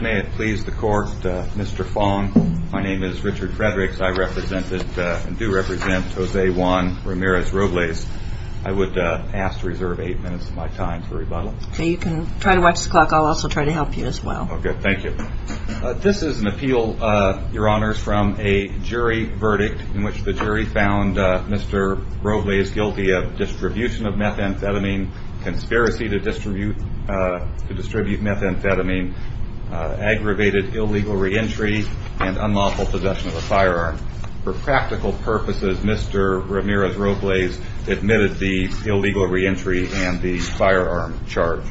May it please the Court, Mr. Fong, my name is Richard Fredericks, I represent and do represent Jose Juan Ramirez-Robles. I would ask to reserve 8 minutes of my time for rebuttal. You can try to watch the clock, I'll also try to help you as well. Okay, thank you. This is an appeal, Your Honors, from a jury verdict in which the jury found Mr. Robles guilty of distribution of methamphetamine, conspiracy to distribute methamphetamine, aggravated illegal re-entry, and unlawful possession of a firearm. For practical purposes, Mr. Ramirez-Robles admitted the illegal re-entry and the firearm charge.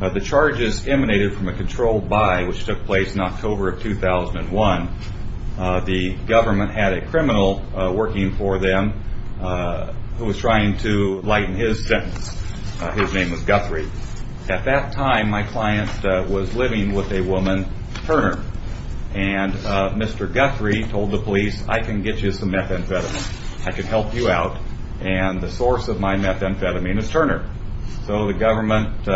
The charges emanated from a controlled buy which took place in October of 2001. The government had a criminal working for them who was trying to lighten his sentence. His name was Guthrie. At that time, my client was living with a woman, Turner, and Mr. Guthrie told the police, I can get you some methamphetamine, I can help you out, and the source of my methamphetamine is Turner. So the government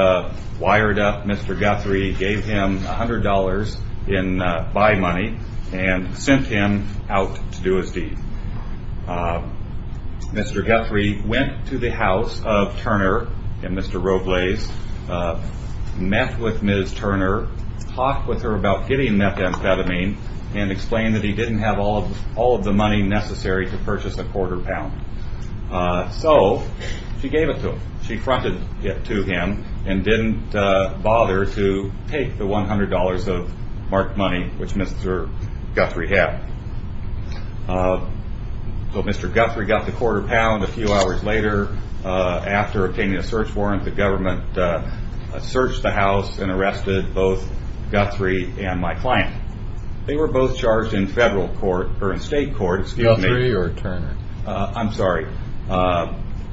wired up Mr. Guthrie, gave him $100 in buy money, and sent him out to do his deed. Mr. Guthrie went to the house of Turner and Mr. Robles, met with Ms. Turner, talked with her about getting methamphetamine, and explained that he didn't have all of the money necessary to purchase a quarter pound. So she gave it to him. She So Mr. Guthrie got the quarter pound. A few hours later, after obtaining a search warrant, the government searched the house and arrested both Guthrie and my client. They were both charged in federal court, or in state court, excuse me. Guthrie or Turner? I'm sorry.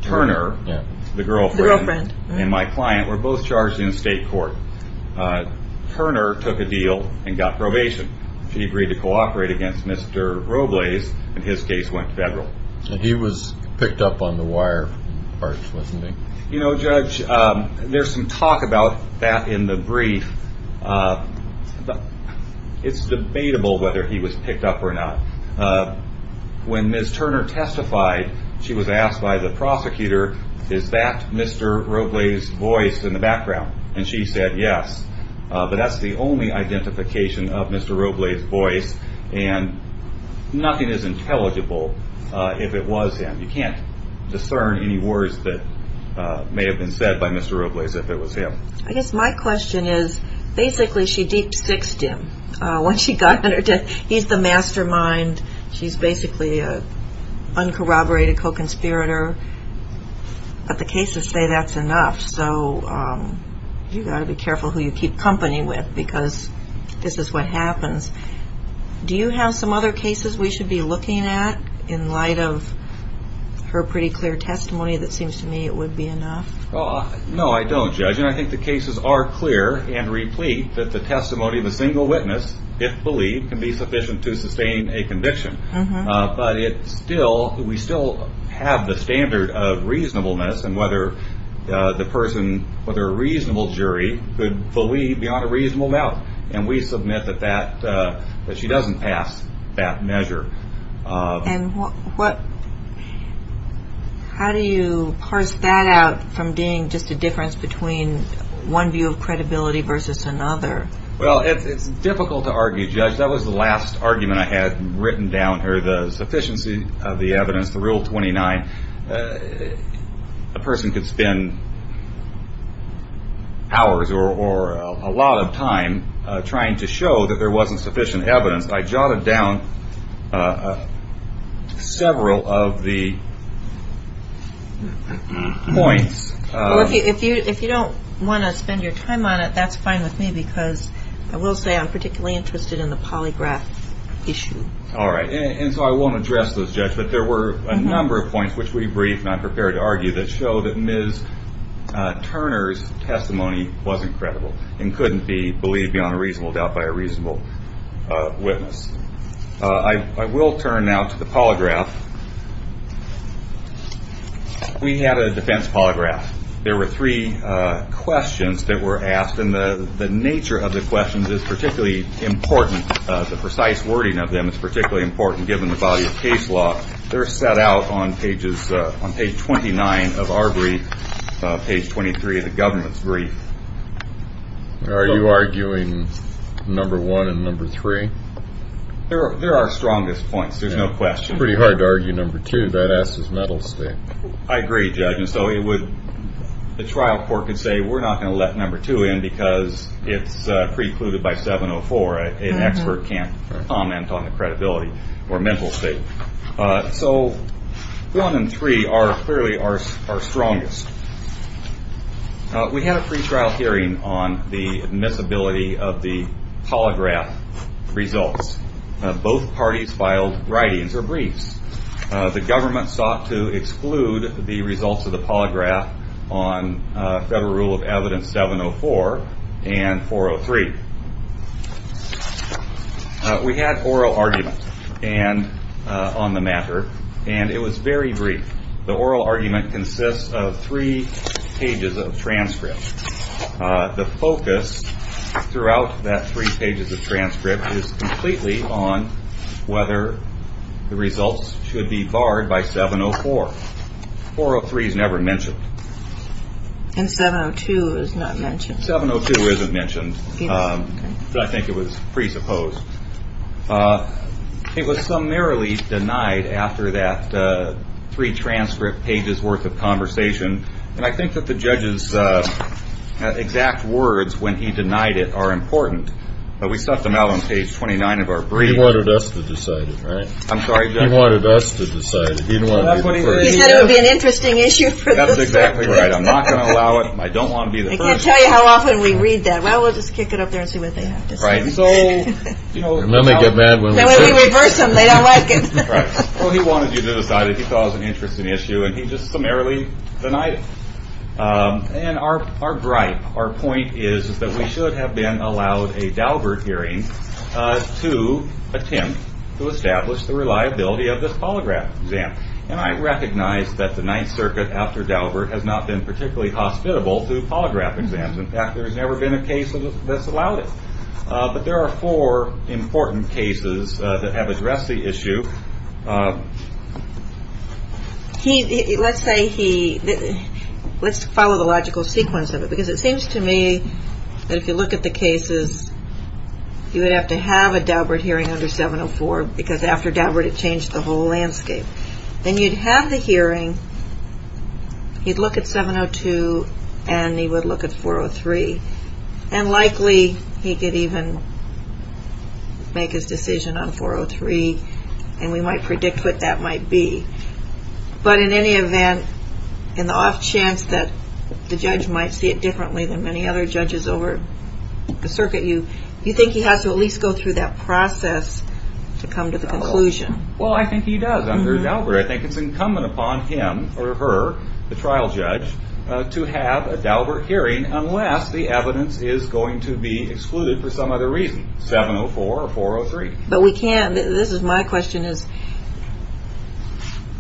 Turner, the girlfriend, and my client were both charged in state court. Turner took a deal and got probation. She agreed to cooperate against Mr. Robles, and his case went federal. And he was picked up on the wire parts, wasn't he? You know, Judge, there's some talk about that in the brief. It's debatable whether he was picked up or not. When Ms. Turner testified, she was asked by the prosecutor, is that Mr. Robles in the background? And she said, yes. But that's the only identification of Mr. Robles' voice, and nothing is intelligible if it was him. You can't discern any words that may have been said by Mr. Robles if it was him. I guess my question is, basically she deep-sixed him. He's the mastermind. She's basically uncorroborated co-conspirator. But the cases say that's enough. So you've got to be careful who you keep company with, because this is what happens. Do you have some other cases we should be looking at in light of her pretty clear testimony that seems to me it would be enough? No, I don't, Judge. And I think the cases are clear and replete that the testimony of a conviction. But we still have the standard of reasonableness and whether a reasonable jury could believe beyond a reasonable doubt. And we submit that she doesn't pass that measure. And how do you parse that out from being just a difference between one view of credibility versus another? Well, it's difficult to argue, Judge. That was the last argument I had written down here, the sufficiency of the evidence, the Rule 29. A person could spend hours or a lot of time trying to show that there wasn't sufficient evidence. I jotted down several of the points. Well, if you don't want to spend your time on it, that's fine with me, because I will say I'm particularly interested in the polygraph issue. All right. And so I won't address those, Judge. But there were a number of points which we briefed and I'm prepared to argue that show that Ms. Turner's testimony wasn't credible and couldn't be believed beyond a reasonable doubt by a reasonable witness. I will turn now to the polygraph. We had a defense polygraph. There were three questions that were asked, and the nature of the questions is particularly important. The precise wording of them is particularly important, given the value of case law. They're set out on page 29 of our brief, page 23 of the government's brief. Are you arguing number one and number three? They're our strongest points. There's no question. Pretty hard to argue number two. That asks his mental state. I agree, Judge. And so the trial court could say, we're not going to let number two in because it's precluded by 704. An expert can't comment on the credibility or mental state. So one and three are clearly our strongest. We had a pre-trial hearing on the admissibility of the polygraph results. Both parties filed writings or briefs. The government sought to exclude the results of the polygraph on Federal Rule of Evidence 704 and 403. We had oral arguments on the matter, and it was very brief. The oral argument consists of three pages of transcript. The focus throughout that three pages of transcript is completely on whether the results should be barred by 704. 403 is never mentioned. And 702 is not mentioned. 702 isn't mentioned, but I think it was presupposed. It was summarily denied after that three transcript pages worth of conversation. And I think that the judge's exact words when he denied it are important. But we stuffed them out on page 29 of our brief. He wanted us to decide it, right? I'm sorry, Judge? He wanted us to decide it. You said it would be an interesting issue for the court. That's exactly right. I'm not going to allow it. I don't want to be the first. I can't tell you how often we read that. Well, we'll just kick it up there and see what they have to say. And then they get mad when we do. Then we reverse them. They don't like it. Well, he wanted you to decide it. He saw it as an interesting issue, and he just summarily denied it. And our gripe, our point is that we should have been allowed a Daubert hearing to attempt to establish the reliability of this polygraph exam. And I recognize that the Ninth Circuit after Daubert has not been particularly hospitable to polygraph exams. In fact, there has never been a case that's allowed it. But there are four important cases that have addressed the issue. Let's follow the logical sequence of it. Because it seems to me that if you look at the cases, you would have to have a Daubert hearing under 704 because after Daubert, it changed the whole landscape. Then you'd have the hearing. He'd look at 702, and he would look at 403. And likely, he could even make his decision on 403. And we might predict what that might be. But in any event, in the off chance that the judge might see it differently than many other judges over the circuit, you think he has to at least go through that process to come to the conclusion. Well, I think he does under Daubert. I think it's incumbent upon him or her, the trial judge, to have a Daubert hearing unless the evidence is going to be excluded for some other reason, 704 or 403. But we can't, this is my question, is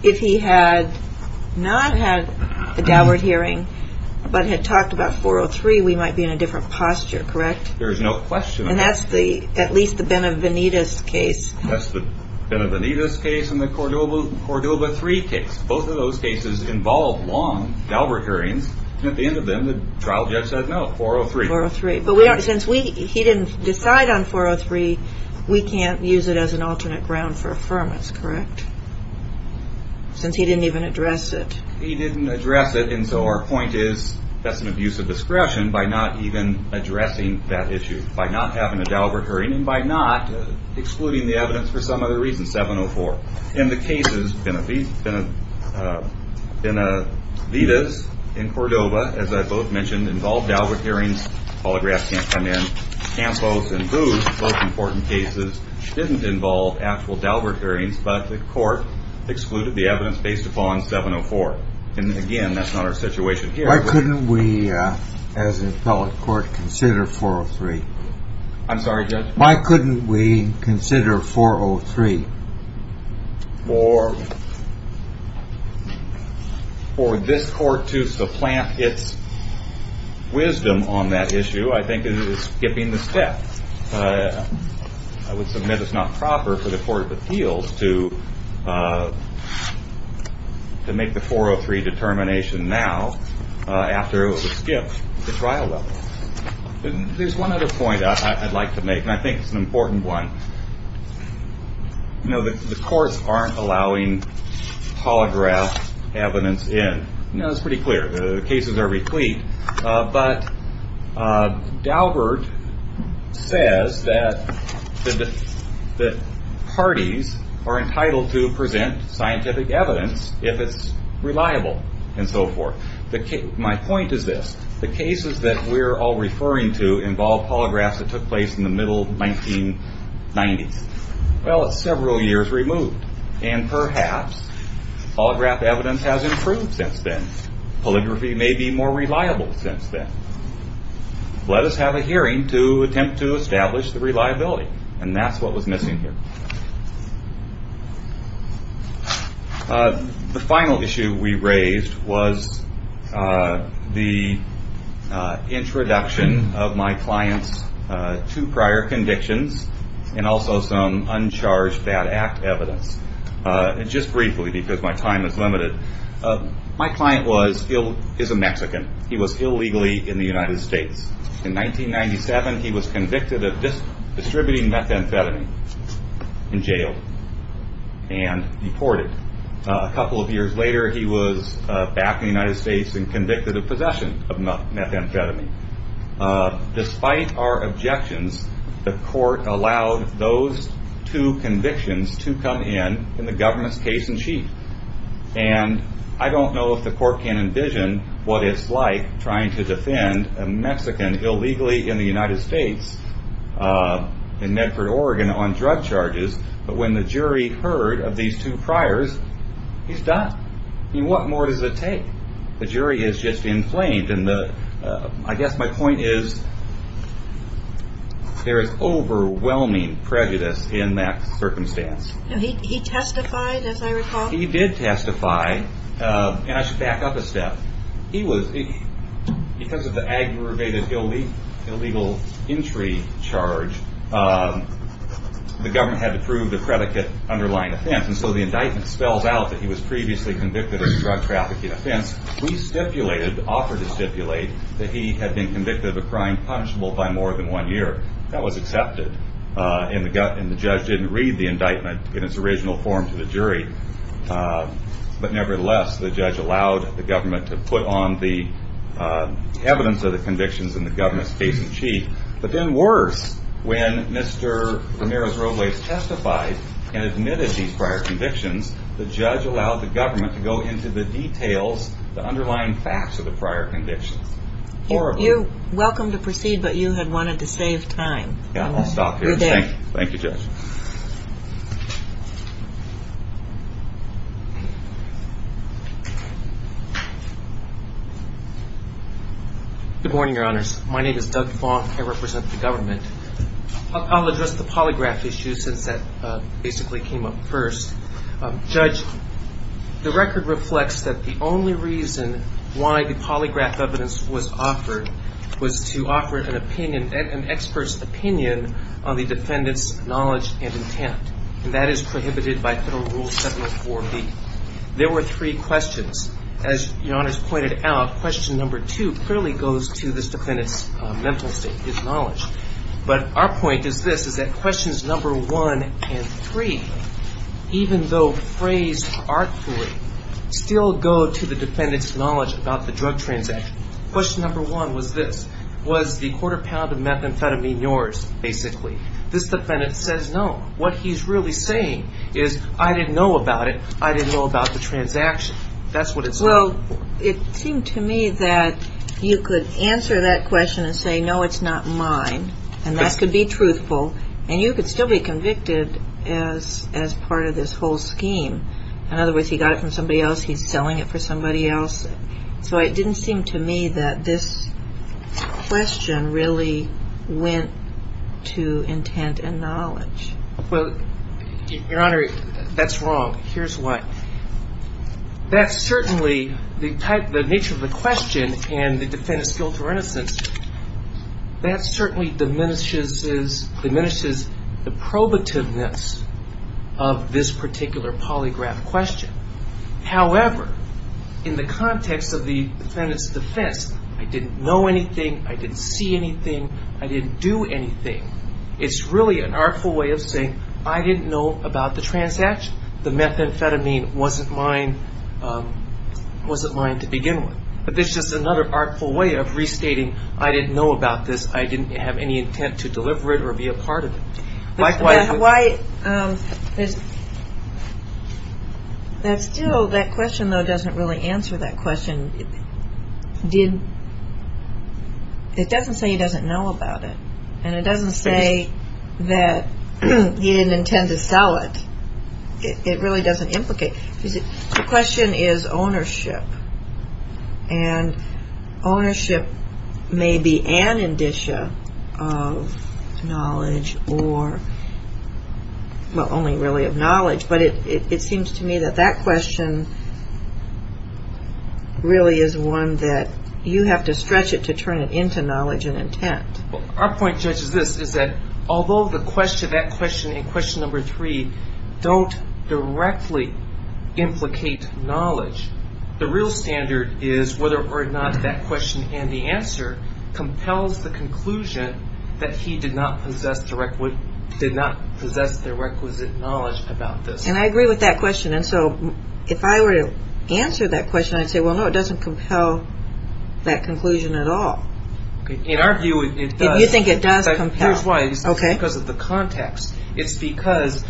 if he had not had a Daubert hearing but had talked about 403, we might be in a different posture, correct? There's no question. And that's at least the Benavenides case. That's the Benavenides case and the Cordoba III case. Both of those cases involved long Daubert hearings. And at the end of them, the trial judge said no, 403. But since he didn't decide on 403, we can't use it as an alternate ground for affirmance, correct? Since he didn't even address it. He didn't address it, and so our point is that's an abuse of discretion by not even addressing that issue, by not having a Daubert hearing and by not excluding the evidence for some other reason, 704. In the cases, Benavenides and Cordoba, as I both mentioned, involved Daubert hearings. Holographs can't come in. Campos and Booth, both important cases, didn't involve actual Daubert hearings, but the court excluded the evidence based upon 704. And again, that's not our situation here. Why couldn't we, as an appellate court, consider 403? I'm sorry, Judge? Why couldn't we consider 403? For this court to supplant its wisdom on that issue, I think it is skipping the step. I would submit it's not proper for the Court of Appeals to make the 403 determination now after it was skipped at the trial level. There's one other point I'd like to make, and I think it's an important one. The courts aren't allowing holograph evidence in. It's pretty clear. The cases are replete. But Daubert says that parties are entitled to present scientific evidence if it's reliable and so forth. My point is this. The cases that we're all referring to involve holographs that took place in the middle 1990s. Well, it's several years removed. And perhaps holograph evidence has improved since then. Holography may be more reliable since then. Let us have a hearing to attempt to establish the reliability. And that's what was missing here. The final issue we raised was the introduction of my client's two prior convictions and also some uncharged bad act evidence. Just briefly, because my time is limited, my client is a Mexican. He was illegally in the United States. In 1997, he was convicted of distributing methamphetamine in jail and deported. A couple of years later, he was back in the United States and convicted of possession of methamphetamine. Despite our objections, the court allowed those two convictions to come in in the government's case-in-chief. I don't know if the court can envision what it's like trying to defend a Mexican illegally in the United States in Medford, Oregon, on drug charges. But when the jury heard of these two priors, he's done. What more does it take? The jury is just inflamed. I guess my point is there is overwhelming prejudice in that circumstance. And he testified, as I recall? He did testify. And I should back up a step. Because of the aggravated illegal entry charge, the government had to prove the predicate underlying offense. And so the indictment spells out that he was previously convicted of a drug trafficking offense. We stipulated, offered to stipulate, that he had been convicted of a crime punishable by more than one year. That was accepted. And the judge didn't read the indictment in its original form to the jury. But nevertheless, the judge allowed the government to put on the evidence of the convictions in the government's case-in-chief. But then worse, when Mr. Ramirez-Robles testified and admitted these prior convictions, the judge allowed the government to go into the details, the underlying facts of the prior convictions. You're welcome to proceed, but you had wanted to save time. I'll stop here. Thank you, Judge. Good morning, Your Honors. My name is Doug Fong. I represent the government. I'll address the polygraph issue since that basically came up first. Judge, the record reflects that the only reason why the polygraph evidence was offered was to offer an opinion, an expert's opinion on the defendant's knowledge and intent. And that is prohibited by Federal Rule 704B. There were three questions. As Your Honors pointed out, question number two clearly goes to this defendant's mental state, his knowledge. But our point is this, is that questions number one and three, even though phrased artfully, still go to the defendant's knowledge about the drug transaction. Question number one was this. Was the quarter pound of methamphetamine yours, basically? This defendant says no. What he's really saying is, I didn't know about it. That's what it says. Well, it seemed to me that you could answer that question and say, no, it's not mine. And that could be truthful. And you could still be convicted as part of this whole scheme. In other words, he got it from somebody else. He's selling it for somebody else. So it didn't seem to me that this question really went to intent and knowledge. Well, Your Honor, that's wrong. Here's why. That certainly, the nature of the question and the defendant's guilt or innocence, that certainly diminishes the probativeness of this particular polygraph question. However, in the context of the defendant's defense, I didn't know anything, I didn't see anything, I didn't do anything, it's really an artful way of saying, I didn't know about the transaction. The methamphetamine wasn't mine to begin with. But this is just another artful way of restating, I didn't know about this, I didn't have any intent to deliver it or be a part of it. Likewise... That still, that question, though, doesn't really answer that question. It doesn't say he doesn't know about it. And it doesn't say that he didn't intend to sell it. It really doesn't implicate. The question is ownership. And ownership may be an indicia of knowledge or, well, only really of knowledge. But it seems to me that that question really is one that you have to stretch it to turn it into knowledge and intent. Our point, Judge, is this, is that although that question and question number three don't directly implicate knowledge, the real standard is whether or not that question and the answer compels the conclusion that he did not possess the requisite knowledge about this. And I agree with that question. And so if I were to answer that question, I'd say, well, no, it doesn't compel that conclusion at all. In our view, it does. You think it does compel. Here's why. It's because of the context. It's because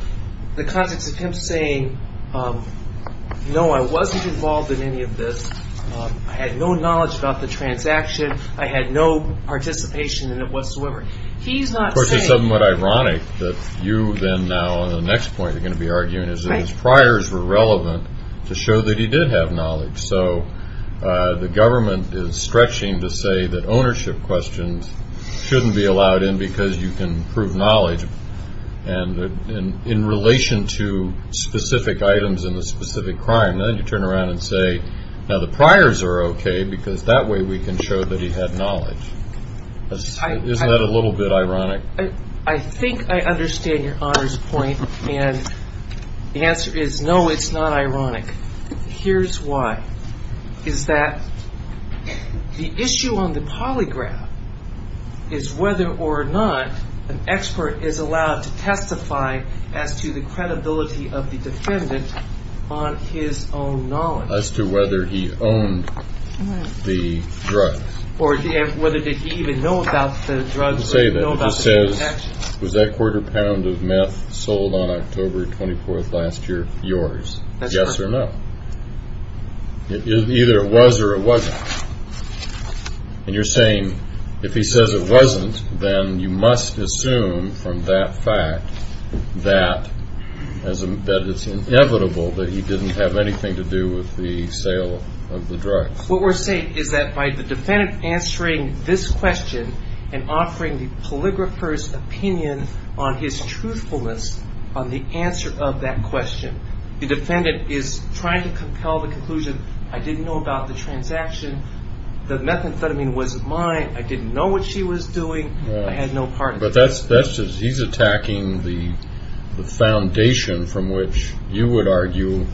the context of him saying, no, I wasn't involved in any of this. I had no knowledge about the transaction. I had no participation in it whatsoever. He's not saying... Of course, it's somewhat ironic that you then now on the next point are going to be arguing that his priors were relevant to show that he did have knowledge. So the government is stretching to say that ownership questions shouldn't be allowed in because you can prove knowledge. And in relation to specific items in the specific crime, then you turn around and say, now the priors are okay because that way we can show that he had knowledge. Isn't that a little bit ironic? I think I understand your honor's point. Here's why. Is that the issue on the polygraph is whether or not an expert is allowed to testify as to the credibility of the defendant on his own knowledge. As to whether he owned the drug. Or whether did he even know about the drug. He doesn't say that. He says, was that quarter pound of meth sold on October 24th last year yours? Yes or no? Either it was or it wasn't. And you're saying if he says it wasn't, then you must assume from that fact that it's inevitable that he didn't have anything to do with the sale of the drugs. What we're saying is that by the defendant answering this question and offering the polygrapher's opinion on his truthfulness on the answer of that question, the defendant is trying to compel the conclusion, I didn't know about the transaction. The methamphetamine wasn't mine. I didn't know what she was doing. I had no part in it. He's attacking the foundation from which you would argue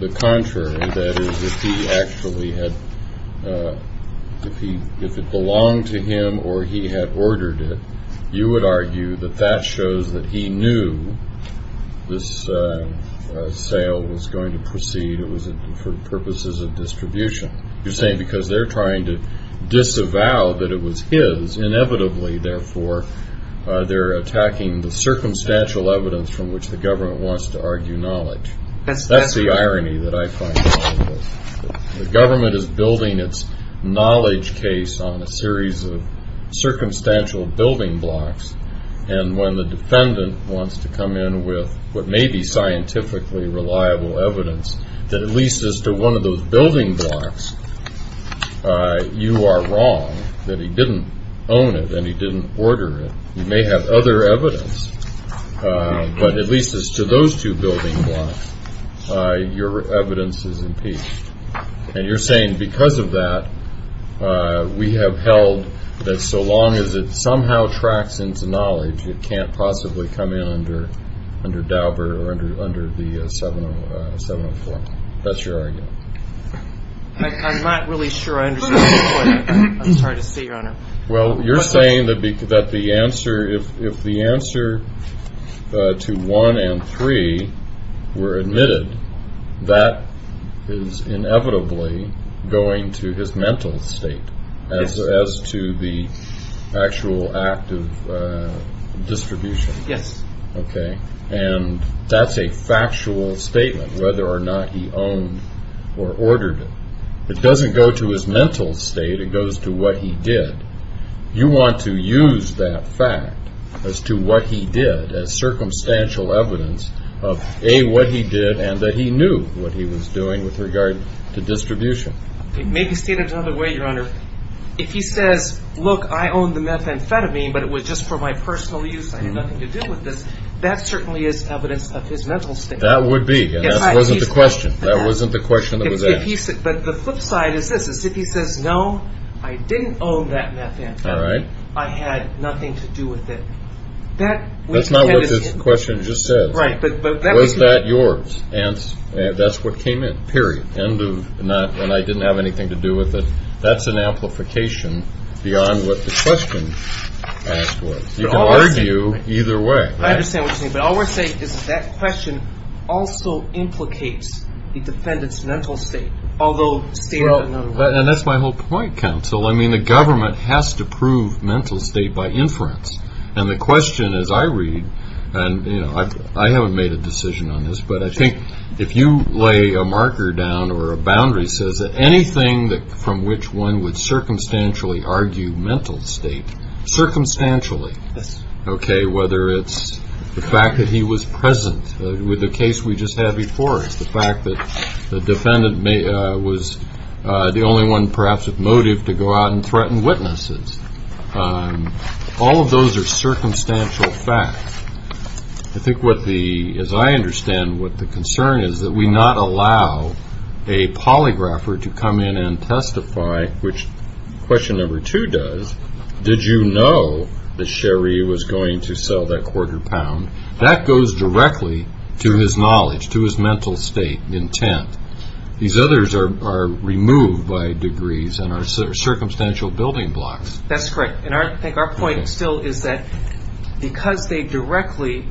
the contrary. That is, if he actually had, if it belonged to him or he had ordered it, you would argue that that shows that he knew this sale was going to proceed. It was for purposes of distribution. You're saying because they're trying to disavow that it was his, inevitably, therefore, they're attacking the circumstantial evidence from which the government wants to argue knowledge. That's the irony that I find. The government is building its knowledge case on a series of circumstantial building blocks, and when the defendant wants to come in with what may be scientifically reliable evidence, that at least as to one of those building blocks, you are wrong that he didn't own it and he didn't order it. You may have other evidence, but at least as to those two building blocks, your evidence is impeached. And you're saying because of that, we have held that so long as it somehow tracks into knowledge, it can't possibly come in under Dauber or under the 704. That's your argument. I'm not really sure I understand your point. I'm sorry to say, Your Honor. Well, you're saying that the answer, if the answer to one and three were admitted, that is inevitably going to his mental state as to the actual act of distribution. Yes. Okay. And that's a factual statement, whether or not he owned or ordered it. It doesn't go to his mental state. It goes to what he did. You want to use that fact as to what he did as circumstantial evidence of, A, what he did, and that he knew what he was doing with regard to distribution. Maybe state it another way, Your Honor. If he says, look, I own the methamphetamine, but it was just for my personal use, I had nothing to do with this, that certainly is evidence of his mental state. That would be, and that wasn't the question. That wasn't the question that was asked. But the flip side is this. If he says, no, I didn't own that methamphetamine. All right. I had nothing to do with it. That's not what this question just says. Right. Was that yours? That's what came in, period. End of, and I didn't have anything to do with it. That's an amplification beyond what the question asked was. You can argue either way. I understand what you're saying. But all we're saying is that question also implicates the defendant's mental state, although state it another way. And that's my whole point, counsel. I mean, the government has to prove mental state by inference. And the question, as I read, and, you know, I haven't made a decision on this, but I think if you lay a marker down or a boundary that says anything from which one would circumstantially argue mental state, circumstantially, OK, whether it's the fact that he was present with the case we just had before us, the fact that the defendant was the only one perhaps with motive to go out and threaten witnesses. All of those are circumstantial facts. I think what the as I understand what the concern is that we not allow a polygrapher to come in and testify, which question number two does, did you know that Sherry was going to sell that quarter pound? That goes directly to his knowledge, to his mental state, intent. These others are removed by degrees and are circumstantial building blocks. That's correct. And I think our point still is that because they directly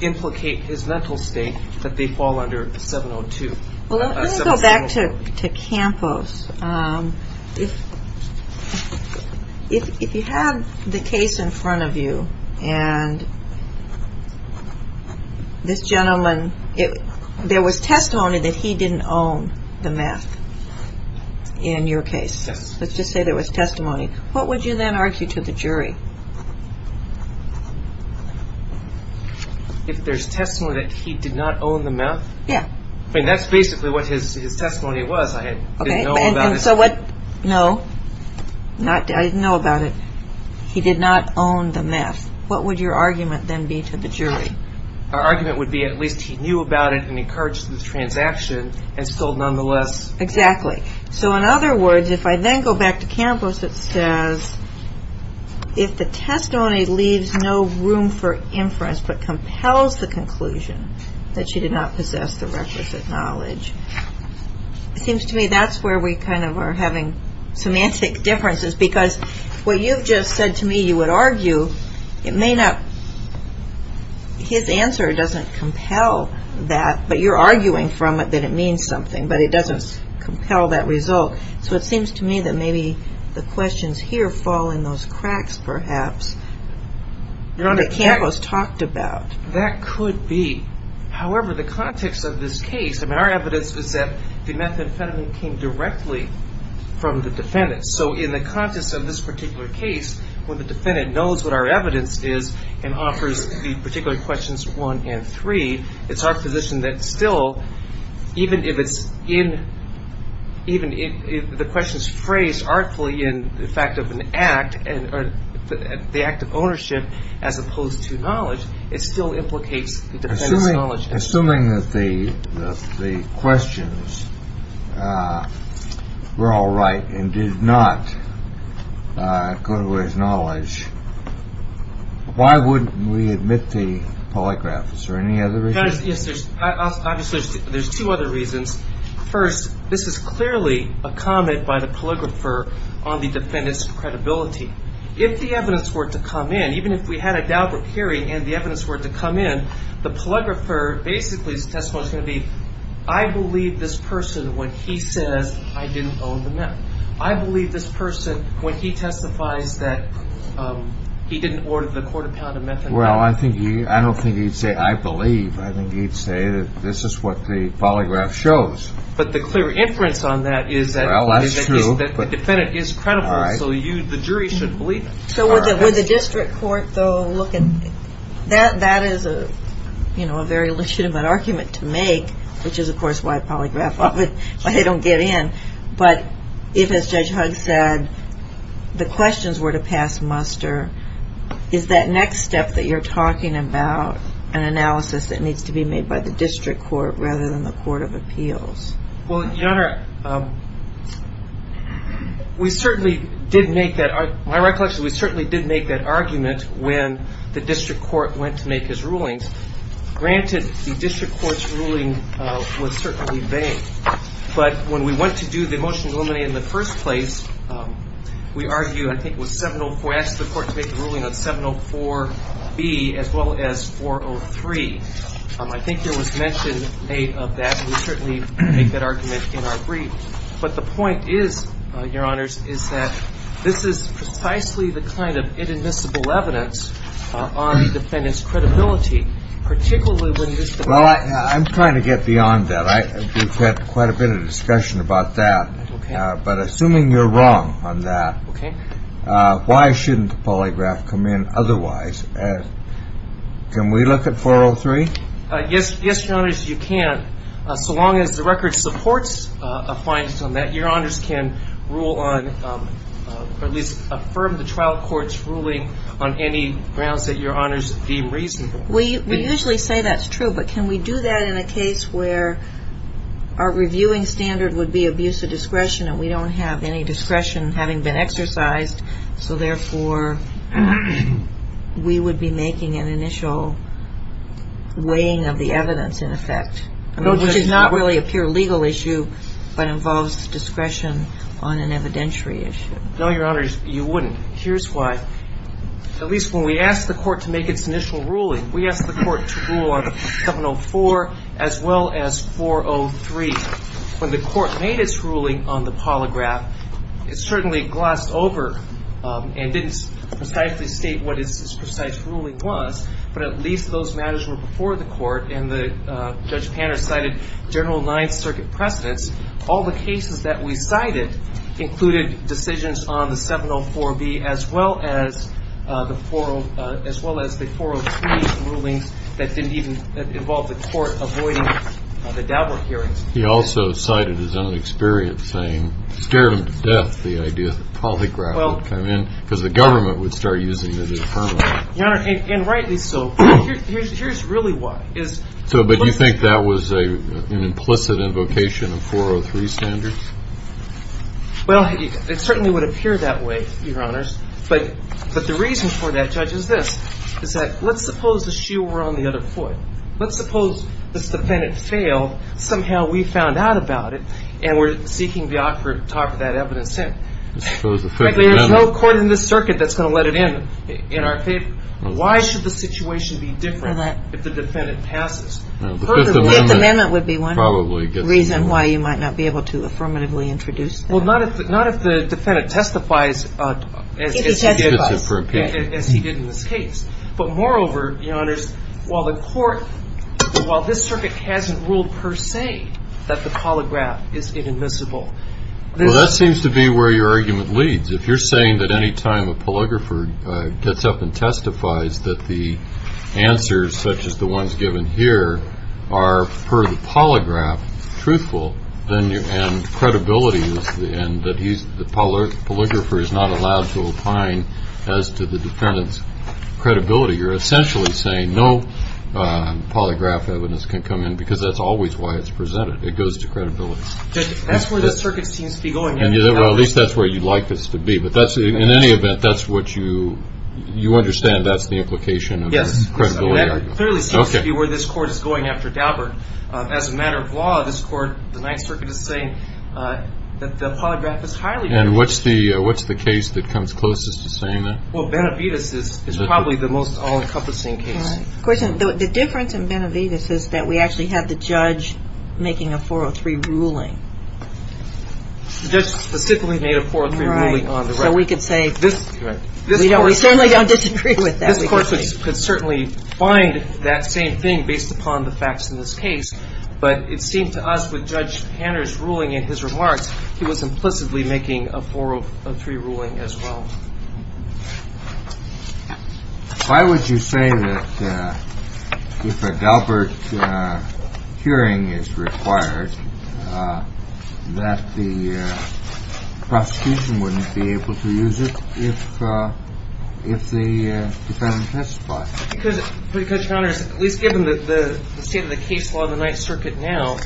implicate his mental state, that they fall under 702. Well, let's go back to Campos. If you had the case in front of you and this gentleman, there was testimony that he didn't own the meth in your case. Let's just say there was testimony. What would you then argue to the jury? If there's testimony that he did not own the meth? Yeah. I mean, that's basically what his testimony was. I didn't know about it. No, I didn't know about it. He did not own the meth. What would your argument then be to the jury? Our argument would be at least he knew about it and encouraged the transaction and still nonetheless. Exactly. So in other words, if I then go back to Campos, it says, if the testimony leaves no room for inference but compels the conclusion that she did not possess the requisite knowledge. It seems to me that's where we kind of are having semantic differences because what you've just said to me you would argue, it may not, his answer doesn't compel that, but you're arguing from it that it means something, but it doesn't compel that result. So it seems to me that maybe the questions here fall in those cracks, perhaps, that Campos talked about. That could be. However, the context of this case, I mean, our evidence is that the methamphetamine came directly from the defendant. So in the context of this particular case, when the defendant knows what our evidence is and offers the particular questions one and three, it's our position that still, even if it's in even if the question is phrased artfully in the fact of an act and the act of ownership, as opposed to knowledge, it still implicates knowledge. Assuming that the questions were all right and did not go to his knowledge, why wouldn't we admit the polygraphs or any other? Yes. Obviously, there's two other reasons. First, this is clearly a comment by the calligrapher on the defendant's credibility. If the evidence were to come in, even if we had a doubt of hearing and the evidence were to come in, the calligrapher, basically, his testimony is going to be, I believe this person when he says I didn't own the meth. I believe this person when he testifies that he didn't order the quarter pound of methamphetamine. Well, I don't think he'd say I believe. I think he'd say that this is what the polygraph shows. But the clear inference on that is that the defendant is credible. So the jury shouldn't believe it. So would the district court, though, look at that? That is a very legitimate argument to make, which is, of course, why a polygraph, why they don't get in. But if, as Judge Hugg said, the questions were to pass muster, is that next step that you're talking about an analysis that needs to be made by the district court rather than the court of appeals? Well, Your Honor, we certainly did make that. My recollection is we certainly did make that argument when the district court went to make his rulings. Granted, the district court's ruling was certainly vain. But when we went to do the motions eliminated in the first place, we argued, I think it was 704, we asked the court to make a ruling on 704B as well as 403. I think there was mention made of that. And we certainly make that argument in our brief. But the point is, Your Honors, is that this is precisely the kind of inadmissible evidence on the defendant's credibility, particularly when it is the court of appeals. Well, I'm trying to get beyond that. We've had quite a bit of discussion about that. But assuming you're wrong on that, why shouldn't the polygraph come in otherwise? Can we look at 403? Yes, Your Honors, you can. So long as the record supports a finding on that, Your Honors can rule on or at least affirm the trial court's ruling on any grounds that Your Honors deem reasonable. We usually say that's true, but can we do that in a case where our reviewing standard would be abuse of discretion and we don't have any discretion having been exercised? So, therefore, we would be making an initial weighing of the evidence in effect, which is not really a pure legal issue, but involves discretion on an evidentiary issue. No, Your Honors, you wouldn't. Here's why. At least when we ask the court to make its initial ruling, we ask the court to rule on 704 as well as 403. When the court made its ruling on the polygraph, it certainly glossed over and didn't precisely state what its precise ruling was, but at least those matters were before the court. And Judge Panner cited General Ninth Circuit precedents. All the cases that we cited included decisions on the 704B as well as the 403 rulings that didn't even involve the court avoiding the Dauber hearings. He also cited his own experience saying, scared him to death the idea that the polygraph would come in because the government would start using it as a permit. Your Honor, and rightly so. Here's really why. So, but you think that was an implicit invocation of 403 standards? Well, it certainly would appear that way, Your Honors. But the reason for that, Judge, is this. Is that let's suppose the shoe were on the other foot. Let's suppose this defendant failed, somehow we found out about it, and we're seeking the offer to talk that evidence in. Frankly, there's no court in this circuit that's going to let it in, in our favor. Why should the situation be different if the defendant passes? The Fifth Amendment would be one reason why you might not be able to affirmatively introduce that. Well, not if the defendant testifies as he did in this case. But moreover, Your Honors, while the court, while this circuit hasn't ruled per se that the polygraph is inadmissible. Well, that seems to be where your argument leads. If you're saying that any time a polygrapher gets up and testifies that the answers, such as the ones given here, are, per the polygraph, truthful, and credibility, and that the polygrapher is not allowed to opine as to the defendant's credibility, you're essentially saying no polygraph evidence can come in, because that's always why it's presented. It goes to credibility. That's where this circuit seems to be going. Well, at least that's where you'd like this to be. But in any event, you understand that's the implication of this credibility argument. Yes, clearly seems to be where this court is going after Dauber. As a matter of law, this court, the Ninth Circuit is saying that the polygraph is highly credible. And what's the case that comes closest to saying that? Well, Benavides is probably the most all-encompassing case. The difference in Benavides is that we actually have the judge making a 403 ruling. The judge specifically made a 403 ruling on the record. Right. So we could say we certainly don't disagree with that. This court could certainly find that same thing based upon the facts in this case. But it seemed to us with Judge Hanner's ruling in his remarks, he was implicitly making a 403 ruling as well. Why would you say that if a Daubert hearing is required, that the prosecution wouldn't be able to use it if the defendant testified? Because, Judge Hanner, at least given the state of the case law in the Ninth Circuit now,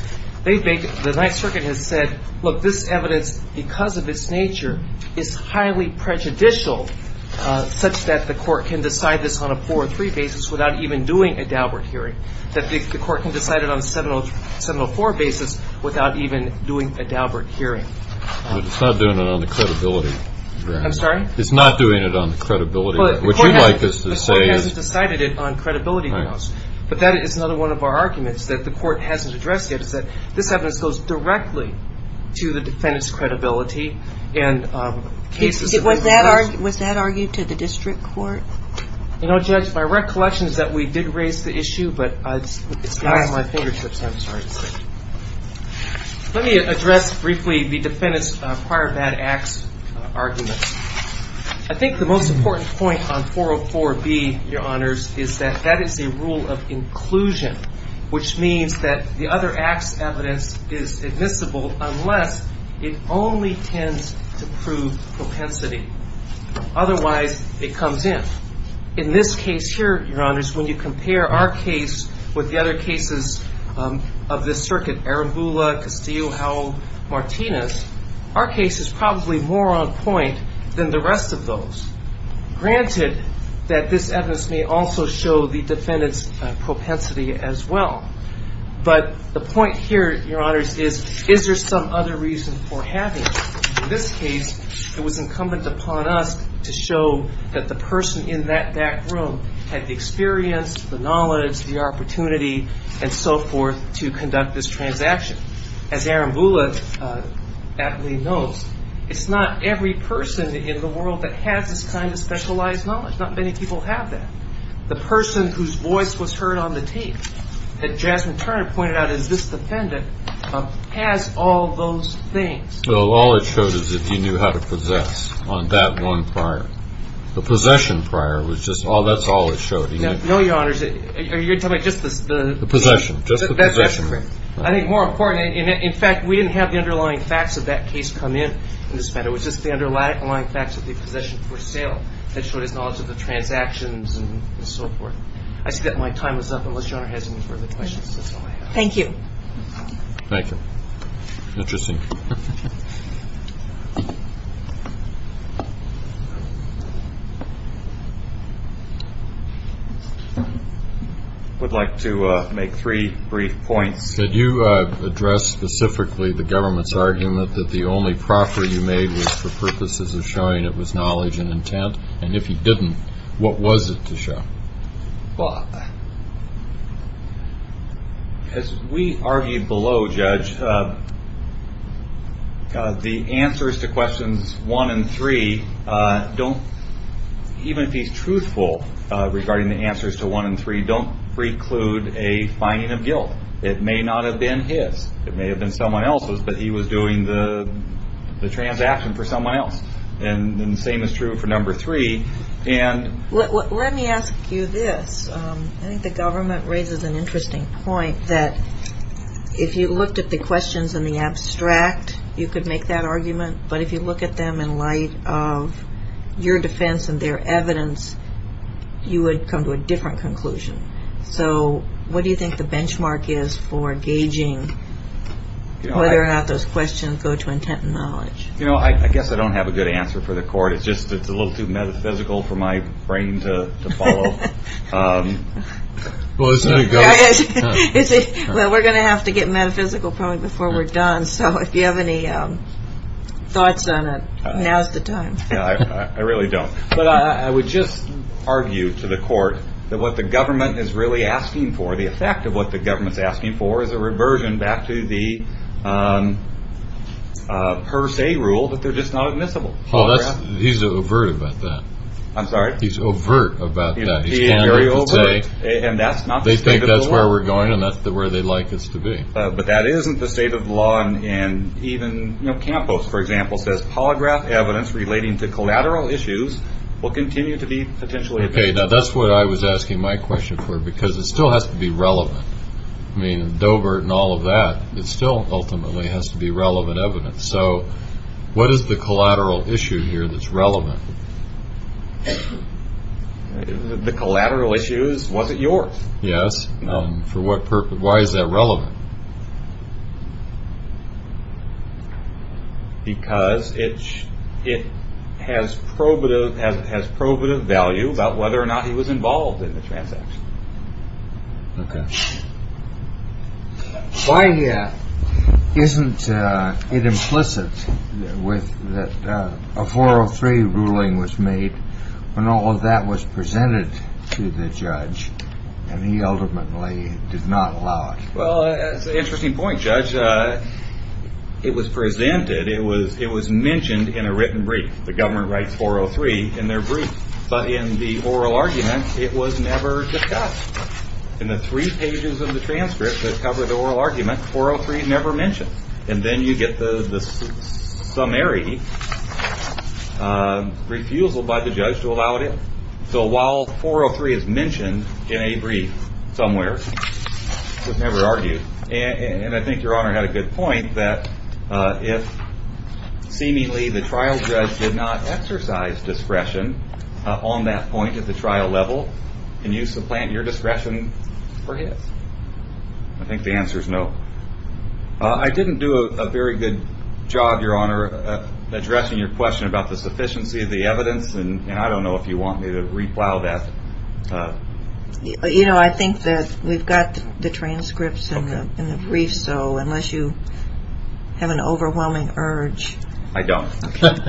the Ninth Circuit has said, look, this evidence, because of its nature, is highly prejudicial, such that the court can decide this on a 403 basis without even doing a Daubert hearing, that the court can decide it on a 704 basis without even doing a Daubert hearing. But it's not doing it on the credibility grounds. I'm sorry? It's not doing it on the credibility grounds, which you'd like us to say is. The court hasn't decided it on credibility grounds. Right. But that is another one of our arguments that the court hasn't addressed yet, is that this evidence goes directly to the defendant's credibility. Was that argued to the district court? You know, Judge, my recollection is that we did raise the issue, but it's not in my fingertips. I'm sorry to say. Let me address briefly the defendant's prior bad acts arguments. I think the most important point on 404B, Your Honors, is that that is a rule of inclusion, which means that the other acts evidence is admissible unless it only tends to prove propensity. Otherwise, it comes in. In this case here, Your Honors, when you compare our case with the other cases of this circuit, Arambula, Castillo, Howell, Martinez, our case is probably more on point than the rest of those. Granted that this evidence may also show the defendant's propensity as well. But the point here, Your Honors, is, is there some other reason for having it? In this case, it was incumbent upon us to show that the person in that room had the experience, the knowledge, the opportunity, and so forth, to conduct this transaction. As Arambula aptly notes, it's not every person in the world that has this kind of specialized knowledge. Not many people have that. The person whose voice was heard on the tape that Jasmine Turner pointed out as this defendant has all those things. Well, all it showed is that he knew how to possess on that one prior. The possession prior was just all that's always showed. No, Your Honors. You're talking about just the possession. Just the possession. I think more important, in fact, we didn't have the underlying facts of that case come in. It was just the underlying facts of the possession for sale that showed his knowledge of the transactions and so forth. I see that my time is up, unless Your Honor has any further questions. That's all I have. Thank you. Thank you. Interesting. I would like to make three brief points. Could you address specifically the government's argument that the only proffer you made was for purposes of showing it was knowledge and intent? And if he didn't, what was it to show? Bob. As we argued below, Judge, the answers to questions one and three don't, even if he's truthful regarding the answers to one and three, don't preclude a finding of guilt. It may not have been his. It may have been someone else's, but he was doing the transaction for someone else. And the same is true for number three. Let me ask you this. I think the government raises an interesting point that if you looked at the questions in the abstract, you could make that argument. But if you look at them in light of your defense and their evidence, you would come to a different conclusion. So what do you think the benchmark is for gauging whether or not those questions go to intent and knowledge? You know, I guess I don't have a good answer for the court. It's just it's a little too metaphysical for my brain to follow. Well, we're going to have to get metaphysical probably before we're done. So if you have any thoughts on it, now's the time. I really don't. But I would just argue to the court that what the government is really asking for, the effect of what the government's asking for is a reversion back to the per se rule that they're just not admissible. Well, he's overt about that. I'm sorry. He's overt about that. And that's not they think that's where we're going. And that's where they like us to be. But that isn't the state of law. And even Campos, for example, says polygraph evidence relating to collateral issues will continue to be potentially. Now, that's what I was asking my question for, because it still has to be relevant. I mean, Doebert and all of that. It still ultimately has to be relevant evidence. So what is the collateral issue here that's relevant? The collateral issues. Was it yours? Yes. No. For what purpose? Why is that relevant? Because it's it has probative as it has probative value about whether or not he was involved in the transaction. OK. Why isn't it implicit with that? A four or three ruling was made when all of that was presented to the judge. And he ultimately did not allow it. Well, it's an interesting point, Judge. It was presented. It was it was mentioned in a written brief. The government writes four or three in their brief. But in the oral argument, it was never discussed in the three pages of the transcript that cover the oral argument. Four or three never mentioned. And then you get the summary refusal by the judge to allow it. So while four or three is mentioned in a brief somewhere, it was never argued. And I think your honor had a good point that if seemingly the trial judge did not exercise discretion on that point at the trial level, can you supplant your discretion for his? I think the answer is no. I didn't do a very good job, your honor, addressing your question about the sufficiency of the evidence. And I don't know if you want me to replow that. You know, I think that we've got the transcripts in the brief. So unless you have an overwhelming urge, I don't. Thank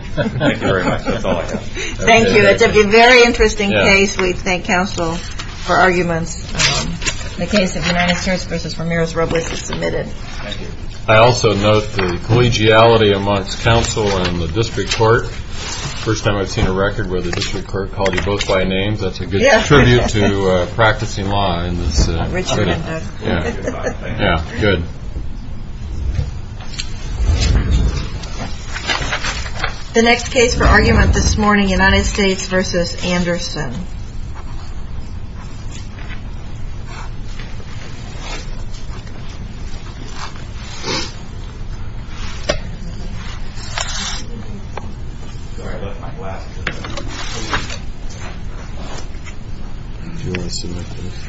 you very much. Thank you. It's a very interesting case. We thank counsel for arguments. The case of the United States versus Ramirez Robles is submitted. I also note the collegiality amongst counsel and the district court. First time I've seen a record where the district court called you both by names. That's a good tribute to practicing law. Yeah. Yeah. Good. The next case for argument this morning, United States versus Anderson. I left my glasses. Thank you.